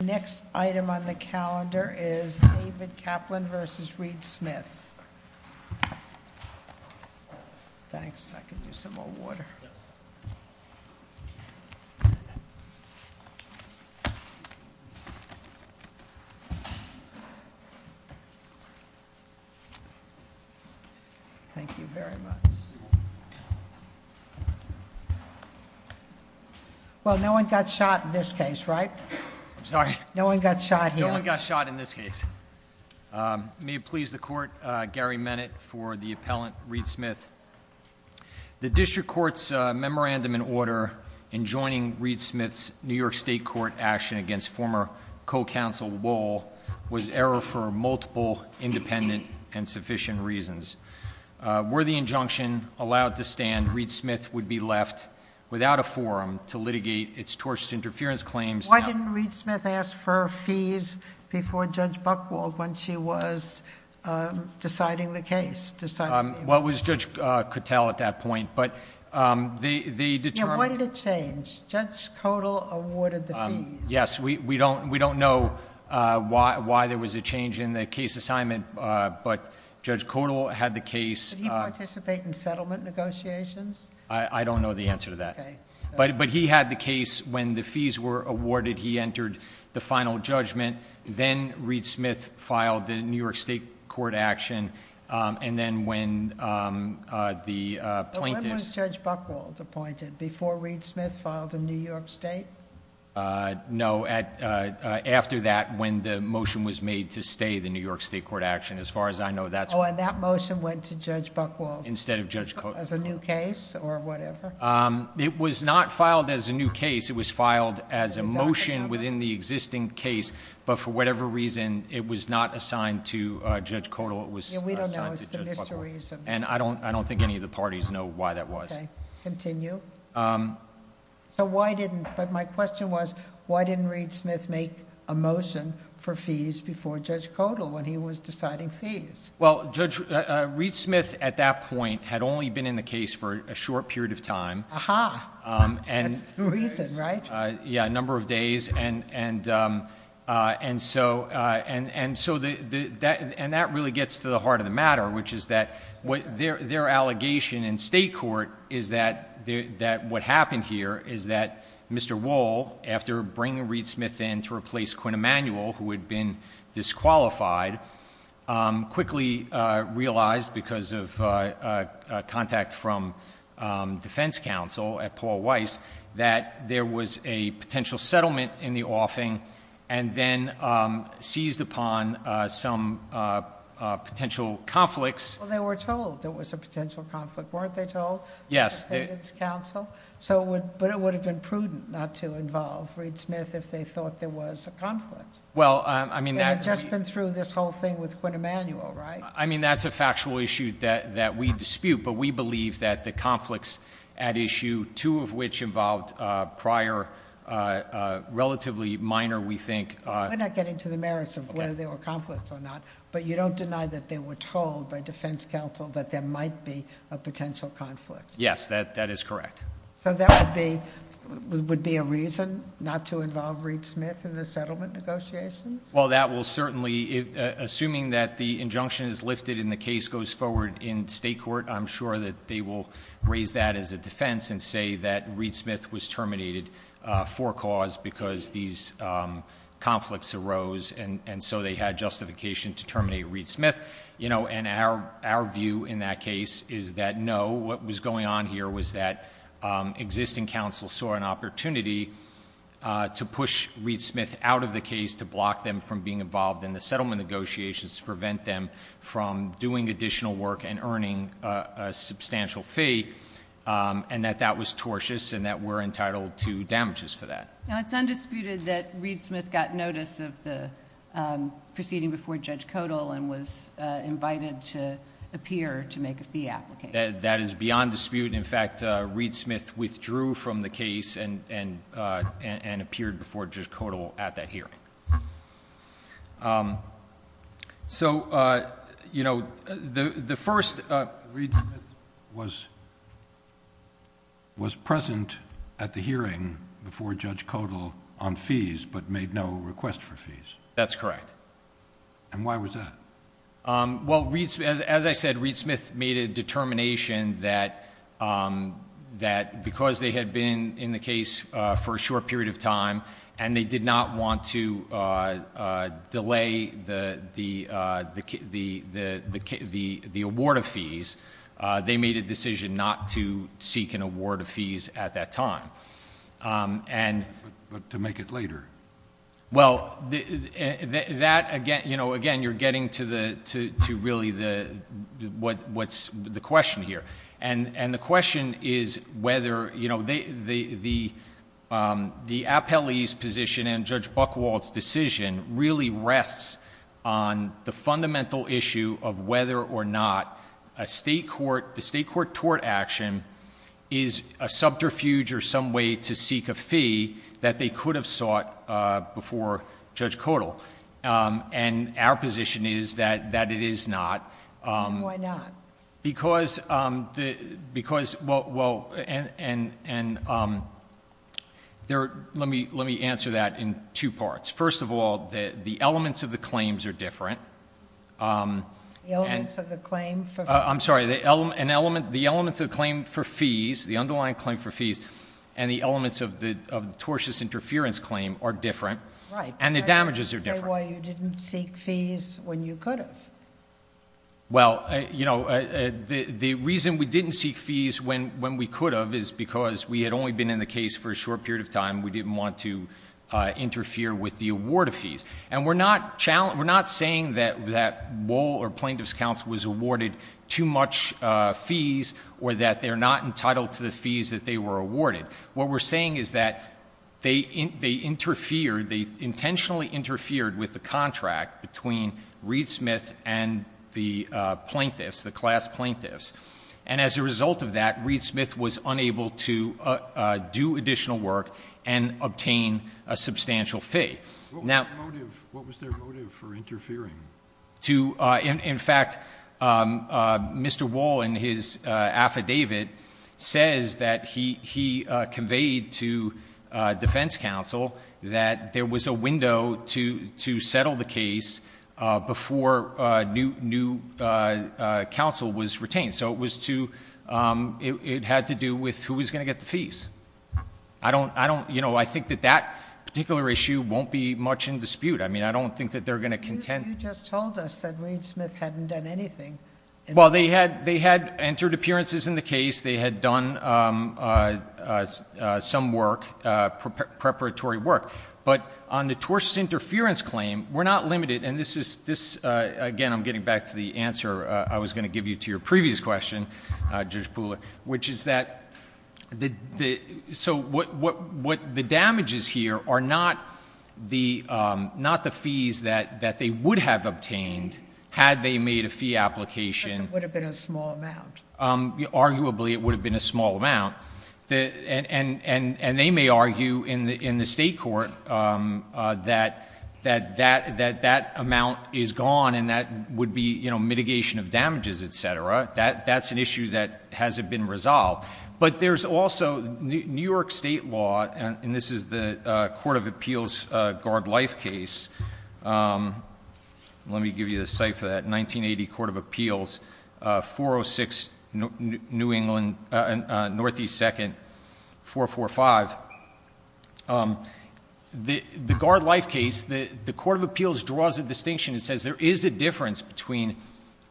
The next item on the calendar is David Kaplan v. Reed Smith. Thanks, I could use some more water. Thank you very much. Well, no one got shot in this case, right? I'm sorry. No one got shot here. No one got shot in this case. May it please the Court, Gary Menet for the appellant, Reed Smith. The District Court's memorandum in order in joining Reed Smith's New York State Court action against former co-counsel Wohl was error for multiple independent and sufficient reasons. Were the injunction allowed to stand, Reed Smith would be left without a forum to litigate its tortious interference claims. Why didn't Reed Smith ask for fees before Judge Buchwald when she was deciding the case? Well, it was Judge Cattell at that point, but they determined... What did it change? Judge Cottle awarded the fees. Yes, we don't know why there was a change in the case assignment, but Judge Cottle had the case... Did he participate in settlement negotiations? I don't know the answer to that. Okay. But he had the case. When the fees were awarded, he entered the final judgment. Then Reed Smith filed the New York State Court action, and then when the plaintiffs... When was Judge Buchwald appointed? Before Reed Smith filed in New York State? No, after that, when the motion was made to stay the New York State Court action. As far as I know, that's... Oh, and that motion went to Judge Buchwald... Instead of Judge Cottle. As a new case or whatever? It was not filed as a new case. It was filed as a motion within the existing case, but for whatever reason, it was not assigned to Judge Cottle. It was assigned to Judge Buchwald. Yeah, we don't know. It's the mysteries of... I don't think any of the parties know why that was. Okay. Continue. So why didn't... But my question was, why didn't Reed Smith make a motion for fees before Judge Cottle when he was deciding fees? Well, Judge, Reed Smith at that point had only been in the case for a short period of time. Aha. That's the reason, right? Yeah, a number of days, and so... And that really gets to the heart of the matter, which is that their allegation in state court is that what happened here is that Mr. Emanuel, who had been disqualified, quickly realized because of contact from defense counsel at Paul Weiss that there was a potential settlement in the offing and then seized upon some potential conflicts. Well, they were told there was a potential conflict. Weren't they told? Yes. But it would have been prudent not to involve Reed Smith if they thought there was a conflict. Well, I mean... They had just been through this whole thing with Quinn Emanuel, right? I mean, that's a factual issue that we dispute, but we believe that the conflicts at issue, two of which involved prior relatively minor, we think... We're not getting to the merits of whether there were conflicts or not, but you don't deny that they were told by defense counsel that there might be a potential conflict. Yes, that is correct. So, that would be a reason not to involve Reed Smith in the settlement negotiations? Well, that will certainly... Assuming that the injunction is lifted and the case goes forward in state court, I'm sure that they will raise that as a defense and say that Reed Smith was terminated for a cause because these conflicts arose and so they had justification to terminate Reed Smith. You know, and our view in that case is that no, what was going on here was that existing counsel saw an opportunity to push Reed Smith out of the case to block them from being involved in the settlement negotiations to prevent them from doing additional work and earning a substantial fee and that that was tortious and that we're entitled to damages for that. Now, it's undisputed that Reed Smith got notice of the proceeding before Judge Codal and was invited to appear to make a fee application? That is beyond dispute. In fact, Reed Smith withdrew from the case and appeared before Judge Codal at that hearing. So, you know, the first... Reed Smith was present at the hearing before Judge Codal on fees but made no request for fees? That's correct. And why was that? Well, as I said, Reed Smith made a determination that because they had been in the case for a short period of time and they did not want to delay the award of fees, they made a decision not to seek an award of fees at that time. But to make it later? Well, that again... you know, again, you're getting to really what's the question here. And the question is whether... you know, the appellee's position and Judge Buchwald's decision really rests on the fundamental issue of whether or not a state court... the state court tort action is a subterfuge or some way to seek a fee that they could have sought before Judge Codal. And our position is that it is not. Why not? Because... because... well, and there... let me answer that in two parts. First of all, the elements of the claims are different. The elements of the claim for... I'm sorry. An element... the elements of the claim for fees, the underlying claim for fees, and the elements of the tortious interference claim are different. Right. And the damages are different. Why you didn't seek fees when you could have? Well, you know, the reason we didn't seek fees when we could have is because we had only been in the case for a short period of time. We didn't want to interfere with the award of fees. And we're not saying that Wohl or Plaintiff's Counsel was awarded too much fees or that they're not entitled to the fees that they were awarded. What we're saying is that they interfered, they intentionally interfered with the contract between Reed Smith and the plaintiffs, the class plaintiffs. And as a result of that, Reed Smith was unable to do additional work and obtain a substantial fee. Now... What was their motive for interfering? In fact, Mr. Wohl in his affidavit says that he conveyed to defense counsel that there was a window to settle the case before new counsel was retained. So it was to... it had to do with who was going to get the fees. I don't... you know, I think that that particular issue won't be much in dispute. I mean, I don't think that they're going to contend... But you just told us that Reed Smith hadn't done anything. Well, they had entered appearances in the case. They had done some work, preparatory work. But on the tortious interference claim, we're not limited. And this is... again, I'm getting back to the answer I was going to give you to your previous question, Judge Pooler, which is that...... had they made a fee application... But it would have been a small amount. Arguably, it would have been a small amount. And they may argue in the State court that that amount is gone and that would be, you know, mitigation of damages, et cetera. That's an issue that hasn't been resolved. But there's also New York State law, and this is the Court of Appeals Guard Life case. Let me give you the site for that. 1980 Court of Appeals, 406 New England, Northeast 2nd, 445. The Guard Life case, the Court of Appeals draws a distinction. It says there is a difference between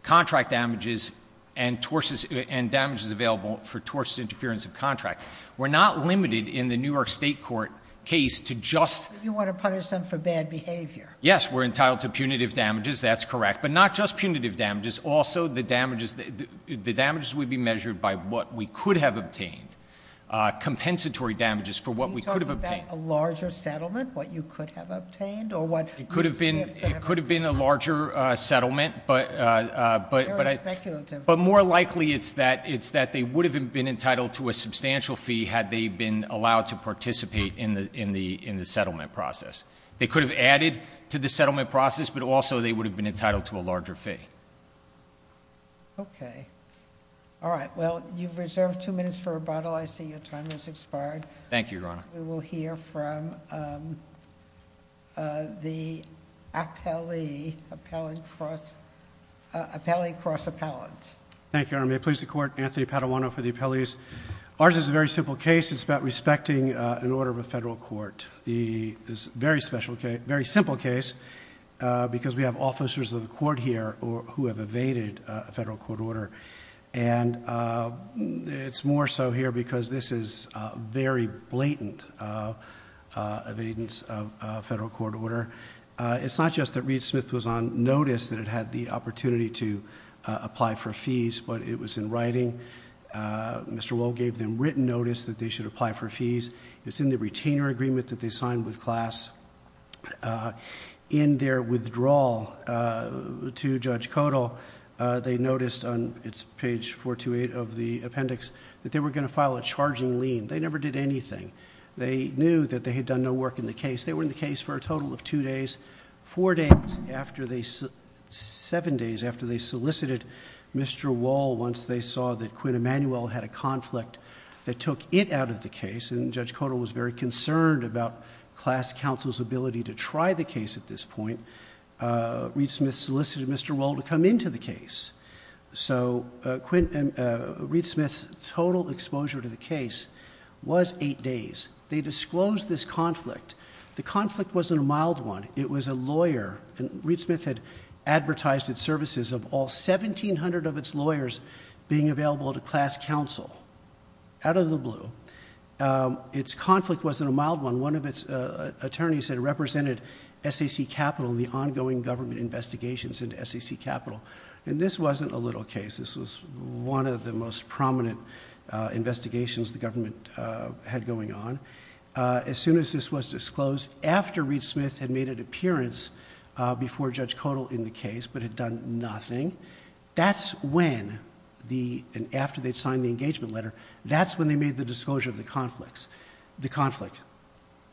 contract damages and damages available for tortious interference of contract. We're not limited in the New York State court case to just... You want to punish them for bad behavior. Yes. We're entitled to punitive damages. That's correct. But not just punitive damages. Also, the damages would be measured by what we could have obtained, compensatory damages for what we could have obtained. Are you talking about a larger settlement, what you could have obtained? It could have been a larger settlement, but... Very speculative. But more likely it's that they would have been entitled to a substantial fee had they been allowed to participate in the settlement process. They could have added to the settlement process, but also they would have been entitled to a larger fee. Okay. All right. Well, you've reserved two minutes for rebuttal. I see your time has expired. Thank you, Your Honor. We will hear from the appellee cross-appellant. Thank you, Your Honor. May it please the Court, Anthony Paduano for the appellees. Ours is a very simple case. It's about respecting an order of a Federal court. It's a very simple case because we have officers of the court here who have evaded a Federal court order. It's more so here because this is a very blatant evidence of a Federal court order. It's not just that Reed Smith was on notice that it had the opportunity to apply for fees, but it was in writing. Mr. Wohl gave them written notice that they should apply for fees. It's in the retainer agreement that they signed with class. In their withdrawal to Judge Codall, they noticed on page 428 of the appendix that they were going to file a charging lien. They never did anything. They knew that they had done no work in the case. They were in the case for a total of two days. Four days after they... seven days after they solicited Mr. Wohl once they saw that Quinn Emanuel had a conflict that took it out of the case. Judge Codall was very concerned about class counsel's ability to try the case at this point. Reed Smith solicited Mr. Wohl to come into the case. Reed Smith's total exposure to the case was eight days. They disclosed this conflict. The conflict wasn't a mild one. It was a lawyer. Reed Smith had advertised its services of all 1,700 of its lawyers being available to class counsel. Out of the blue. Its conflict wasn't a mild one. One of its attorneys had represented SAC Capital in the ongoing government investigations into SAC Capital. This wasn't a little case. This was one of the most prominent investigations the government had going on. As soon as this was disclosed, after Reed Smith had made an appearance before Judge Codall in the case but had done nothing, that's when, after they'd signed the engagement letter, that's when they made the disclosure of the conflict.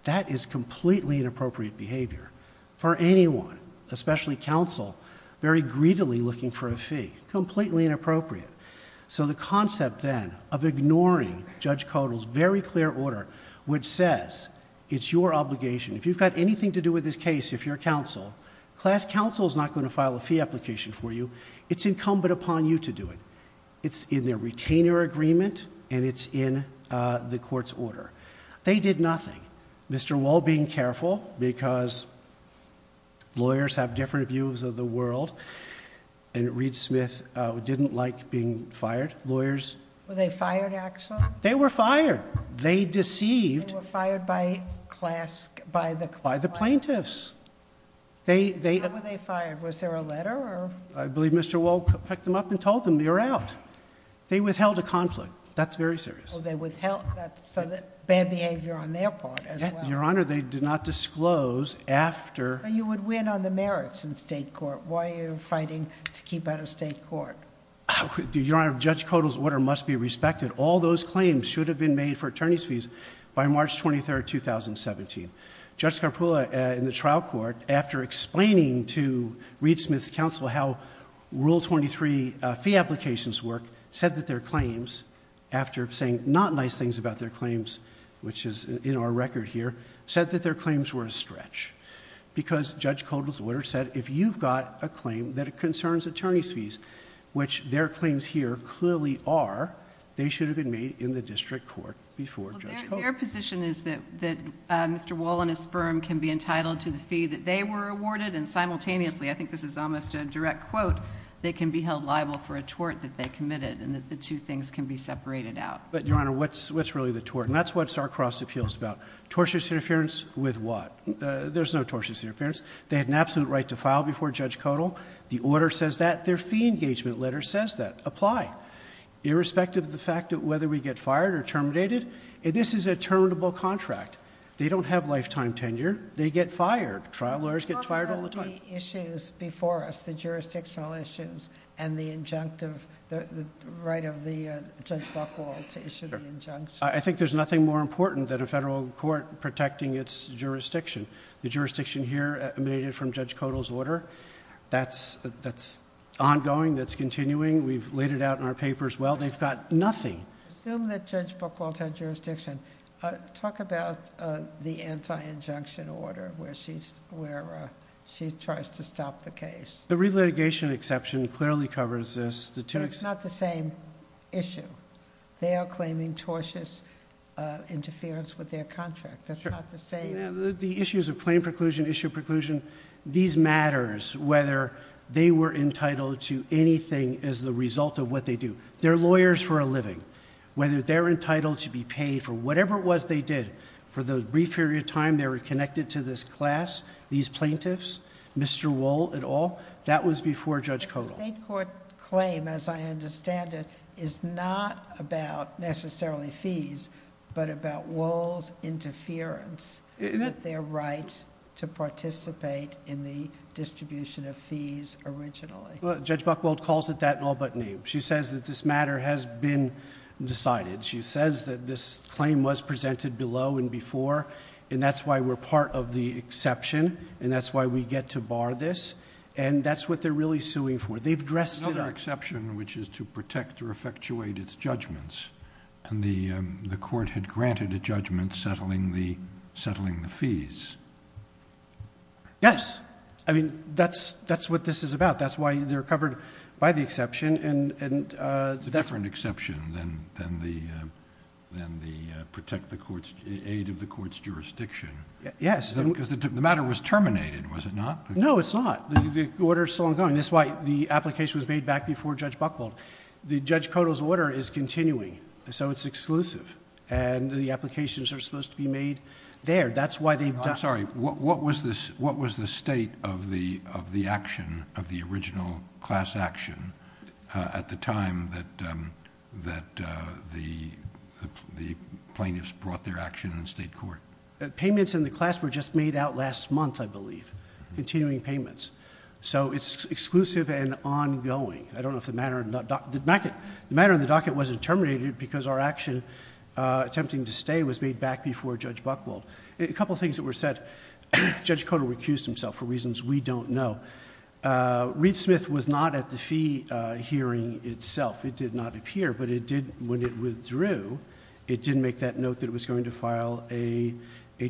That is completely inappropriate behavior for anyone, especially counsel, very greedily looking for a fee. Completely inappropriate. The concept then of ignoring Judge Codall's very clear order which says, it's your obligation, if you've got anything to do with this case, if you're counsel, class counsel is not going to file a fee application for you. It's incumbent upon you to do it. It's in their retainer agreement and it's in the court's order. They did nothing. Mr. Lowe being careful because lawyers have different views of the world and Reed Smith didn't like being fired. Lawyers... Were they fired, actually? They were fired. They deceived... They were fired by class... By the plaintiffs. They... How were they fired? Was there a letter or... I believe Mr. Wohl picked them up and told them, you're out. They withheld a conflict. That's very serious. They withheld... That's bad behavior on their part as well. Your Honor, they did not disclose after... You would win on the merits in state court. Why are you fighting to keep out of state court? Your Honor, Judge Codall's order must be respected. All those claims should have been made for attorney's fees by March 23, 2017. Judge Scarpullo in the trial court, after explaining to Reed Smith's counsel how Rule 23 fee applications work, said that their claims, after saying not nice things about their claims, which is in our record here, said that their claims were a stretch. Because Judge Codall's order said, if you've got a claim that concerns attorney's fees, which their claims here clearly are, they should have been made in the district court before Judge Codall. Your position is that Mr. Wohl and his firm can be entitled to the fee that they were awarded, and simultaneously, I think this is almost a direct quote, they can be held liable for a tort that they committed, and that the two things can be separated out. But, Your Honor, what's really the tort? And that's what Starcross Appeals is about. Tortious interference with what? There's no tortious interference. They had an absolute right to file before Judge Codall. The order says that. Their fee engagement letter says that. Apply. Irrespective of the fact that whether we get fired or terminated, this is a terminable contract. They don't have lifetime tenure. They get fired. Trial lawyers get fired all the time. What about the issues before us, the jurisdictional issues, and the injunctive... the right of Judge Buchwald to issue the injunction? I think there's nothing more important than a federal court protecting its jurisdiction. The jurisdiction here emanated from Judge Codall's order. That's ongoing. That's continuing. We've laid it out in our papers well. They've got nothing. Assume that Judge Buchwald had jurisdiction. Talk about the anti-injunction order where she tries to stop the case. The relitigation exception clearly covers this. But it's not the same issue. They are claiming tortious interference with their contract. That's not the same... Sure. The issues of claim preclusion, issue preclusion, these matters whether they were entitled to anything as the result of what they do. They're lawyers for a living. Whether they're entitled to be paid for whatever it was they did. For the brief period of time they were connected to this class, these plaintiffs, Mr. Wohl, et al. That was before Judge Codall. The state court claim, as I understand it, is not about necessarily fees, but about Wohl's interference with their right to participate in the case. Judge Buchwald calls it that in all but name. She says that this matter has been decided. She says that this claim was presented below and before. And that's why we're part of the exception. And that's why we get to bar this. And that's what they're really suing for. They've dressed it up... Another exception, which is to protect or effectuate its judgments. And the court had granted a judgment settling the fees. Yes. I mean, that's what this is about. That's why they're covered by the exception. It's a different exception than the aid of the court's jurisdiction. Yes. Because the matter was terminated, was it not? No, it's not. The order is still ongoing. That's why the application was made back before Judge Buchwald. Judge Codall's order is continuing, so it's exclusive. That's why they've done... I'm sorry. What was the state of the action, of the original class action, at the time that the plaintiffs brought their action in state court? Payments in the class were just made out last month, I believe. Continuing payments. So it's exclusive and ongoing. I don't know if the matter... The matter in the docket wasn't terminated because our action, attempting to stay, was made back before Judge Buchwald. A couple of things that were said. Judge Codall recused himself for reasons we don't know. Reed Smith was not at the fee hearing itself. It did not appear, but it did... When it withdrew, it did make that note that it was going to file a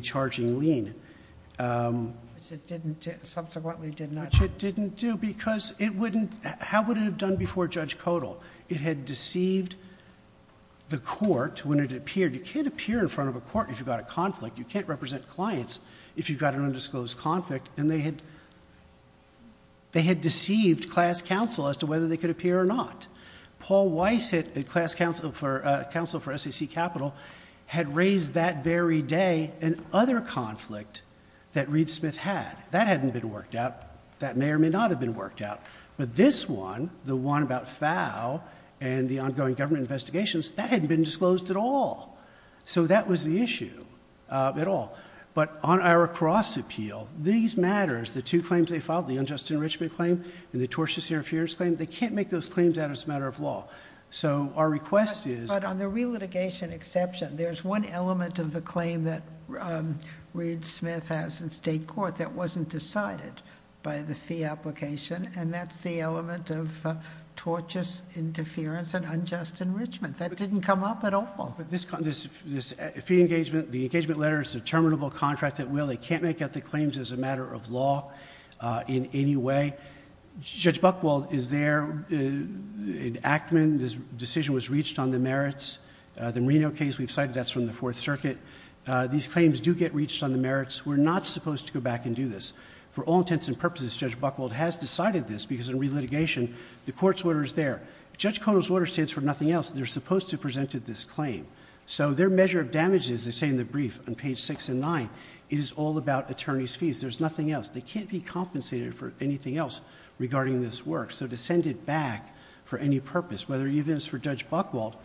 charging lien. It subsequently did not... Which it didn't do because it wouldn't... How would it have done before Judge Codall? It had deceived the court when it appeared. You can't appear in front of a court if you've got a conflict. You can't represent clients if you've got an undisclosed conflict. They had deceived class counsel as to whether they could appear or not. Paul Weiss, class counsel for SAC Capital, had raised that very day an other conflict that Reed Smith had. That hadn't been worked out. That may or may not have been worked out. But this one, the one about FOW and the ongoing government investigations, that hadn't been disclosed at all. That was the issue at all. But on our cross appeal, these matters, the two claims they filed, the unjust enrichment claim and the tortious interference claim, they can't make those claims out as a matter of law. Our request is... But on the relitigation exception, there's one element of the claim that Reed Smith has in state court that wasn't decided by the fee application, and that's the element of tortious interference and unjust enrichment. That didn't come up at all. But this fee engagement, the engagement letter, it's a terminable contract at will. They can't make out the claims as a matter of law in any way. Judge Buchwald is there. In Ackman, this decision was reached on the merits. The Marino case we've cited, that's from the Fourth Circuit. These claims do get reached on the merits. We're not supposed to go back and do this. For all intents and purposes, Judge Buchwald has decided this, because in relitigation, the court's order is there. Judge Koto's order stands for nothing else. They're supposed to have presented this claim. So their measure of damages, they say in the brief on page 6 and 9, is all about attorney's fees. There's nothing else. They can't be compensated for anything else regarding this work. So to send it back for any purpose, whether even it's for Judge Buchwald,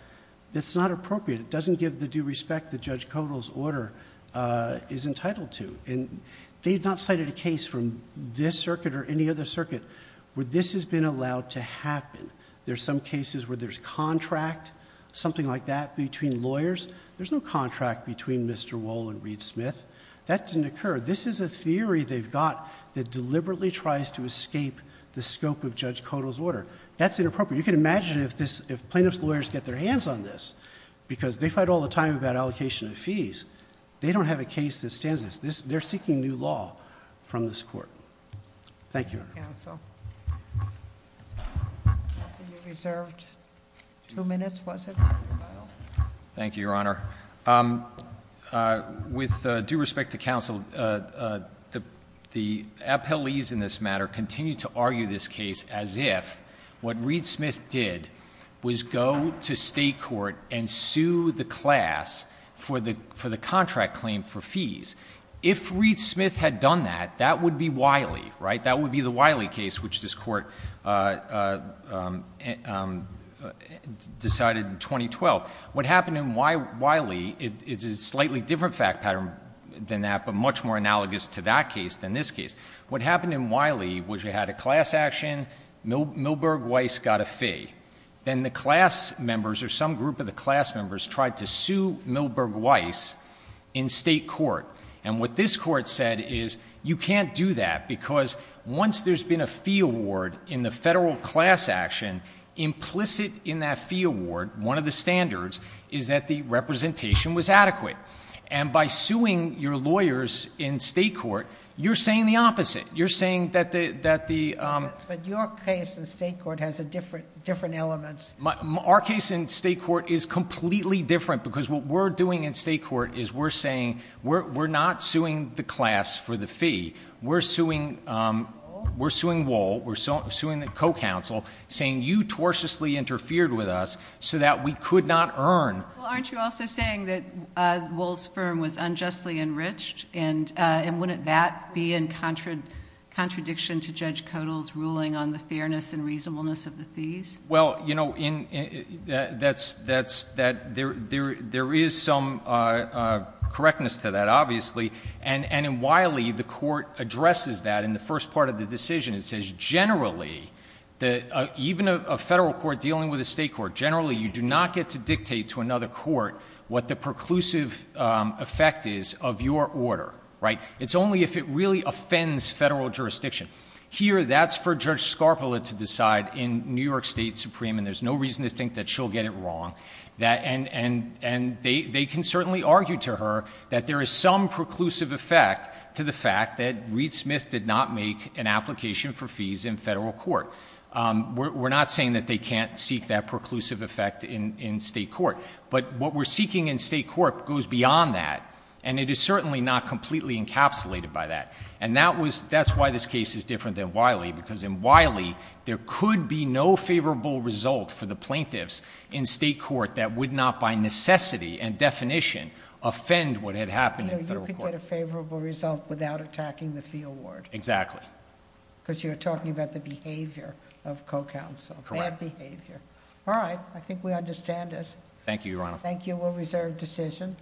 that's not appropriate. It doesn't give the due respect that Judge Koto's order is entitled to. And they've not cited a case from this circuit or any other circuit where this has been allowed to happen. There's some cases where there's contract, something like that, between lawyers. There's no contract between Mr. Wohl and Reed Smith. That didn't occur. This is a theory they've got that deliberately tries to escape the scope of Judge Koto's order. That's inappropriate. You can imagine if plaintiff's lawyers get their hands on this, because they fight all the time about allocation of fees. They don't have a case that stands this. They're seeking new law from this court. Thank you, Your Honor. Thank you, counsel. You reserved two minutes, was it? Thank you, Your Honor. With due respect to counsel, the appellees in this matter continue to argue this case as if what Reed Smith did was go to state court and sue the class for the contract claim for fees. If Reed Smith had done that, that would be Wiley, right? In the Wiley case, which this Court decided in 2012. What happened in Wiley is a slightly different fact pattern than that, but much more analogous to that case than this case. What happened in Wiley was you had a class action. Milberg Weiss got a fee. Then the class members or some group of the class members tried to sue Milberg Weiss in state court. And what this Court said is you can't do that because once there's been a fee award in the federal class action, implicit in that fee award, one of the standards is that the representation was adequate. And by suing your lawyers in state court, you're saying the opposite. You're saying that the — But your case in state court has different elements. Our case in state court is completely different because what we're doing in state court is we're saying we're not suing the class for the fee. We're suing Wohl. We're suing the co-counsel, saying you tortiously interfered with us so that we could not earn — Well, aren't you also saying that Wohl's firm was unjustly enriched? And wouldn't that be in contradiction to Judge Kodal's ruling on the fairness and reasonableness of the fees? Well, you know, that's — there is some correctness to that, obviously. And in Wiley, the Court addresses that in the first part of the decision. It says generally, even a federal court dealing with a state court, generally you do not get to dictate to another court what the preclusive effect is of your order, right? It's only if it really offends federal jurisdiction. Here, that's for Judge Scarpa to decide in New York State Supreme, and there's no reason to think that she'll get it wrong. And they can certainly argue to her that there is some preclusive effect to the fact that Reed Smith did not make an application for fees in federal court. We're not saying that they can't seek that preclusive effect in state court. But what we're seeking in state court goes beyond that, and it is certainly not completely encapsulated by that. And that's why this case is different than Wiley, because in Wiley, there could be no favorable result for the plaintiffs in state court that would not, by necessity and definition, offend what had happened in federal court. You could get a favorable result without attacking the fee award. Exactly. Because you're talking about the behavior of co-counsel. Correct. Bad behavior. All right. I think we understand it. Thank you, Your Honor. Thank you. We'll reserve decision.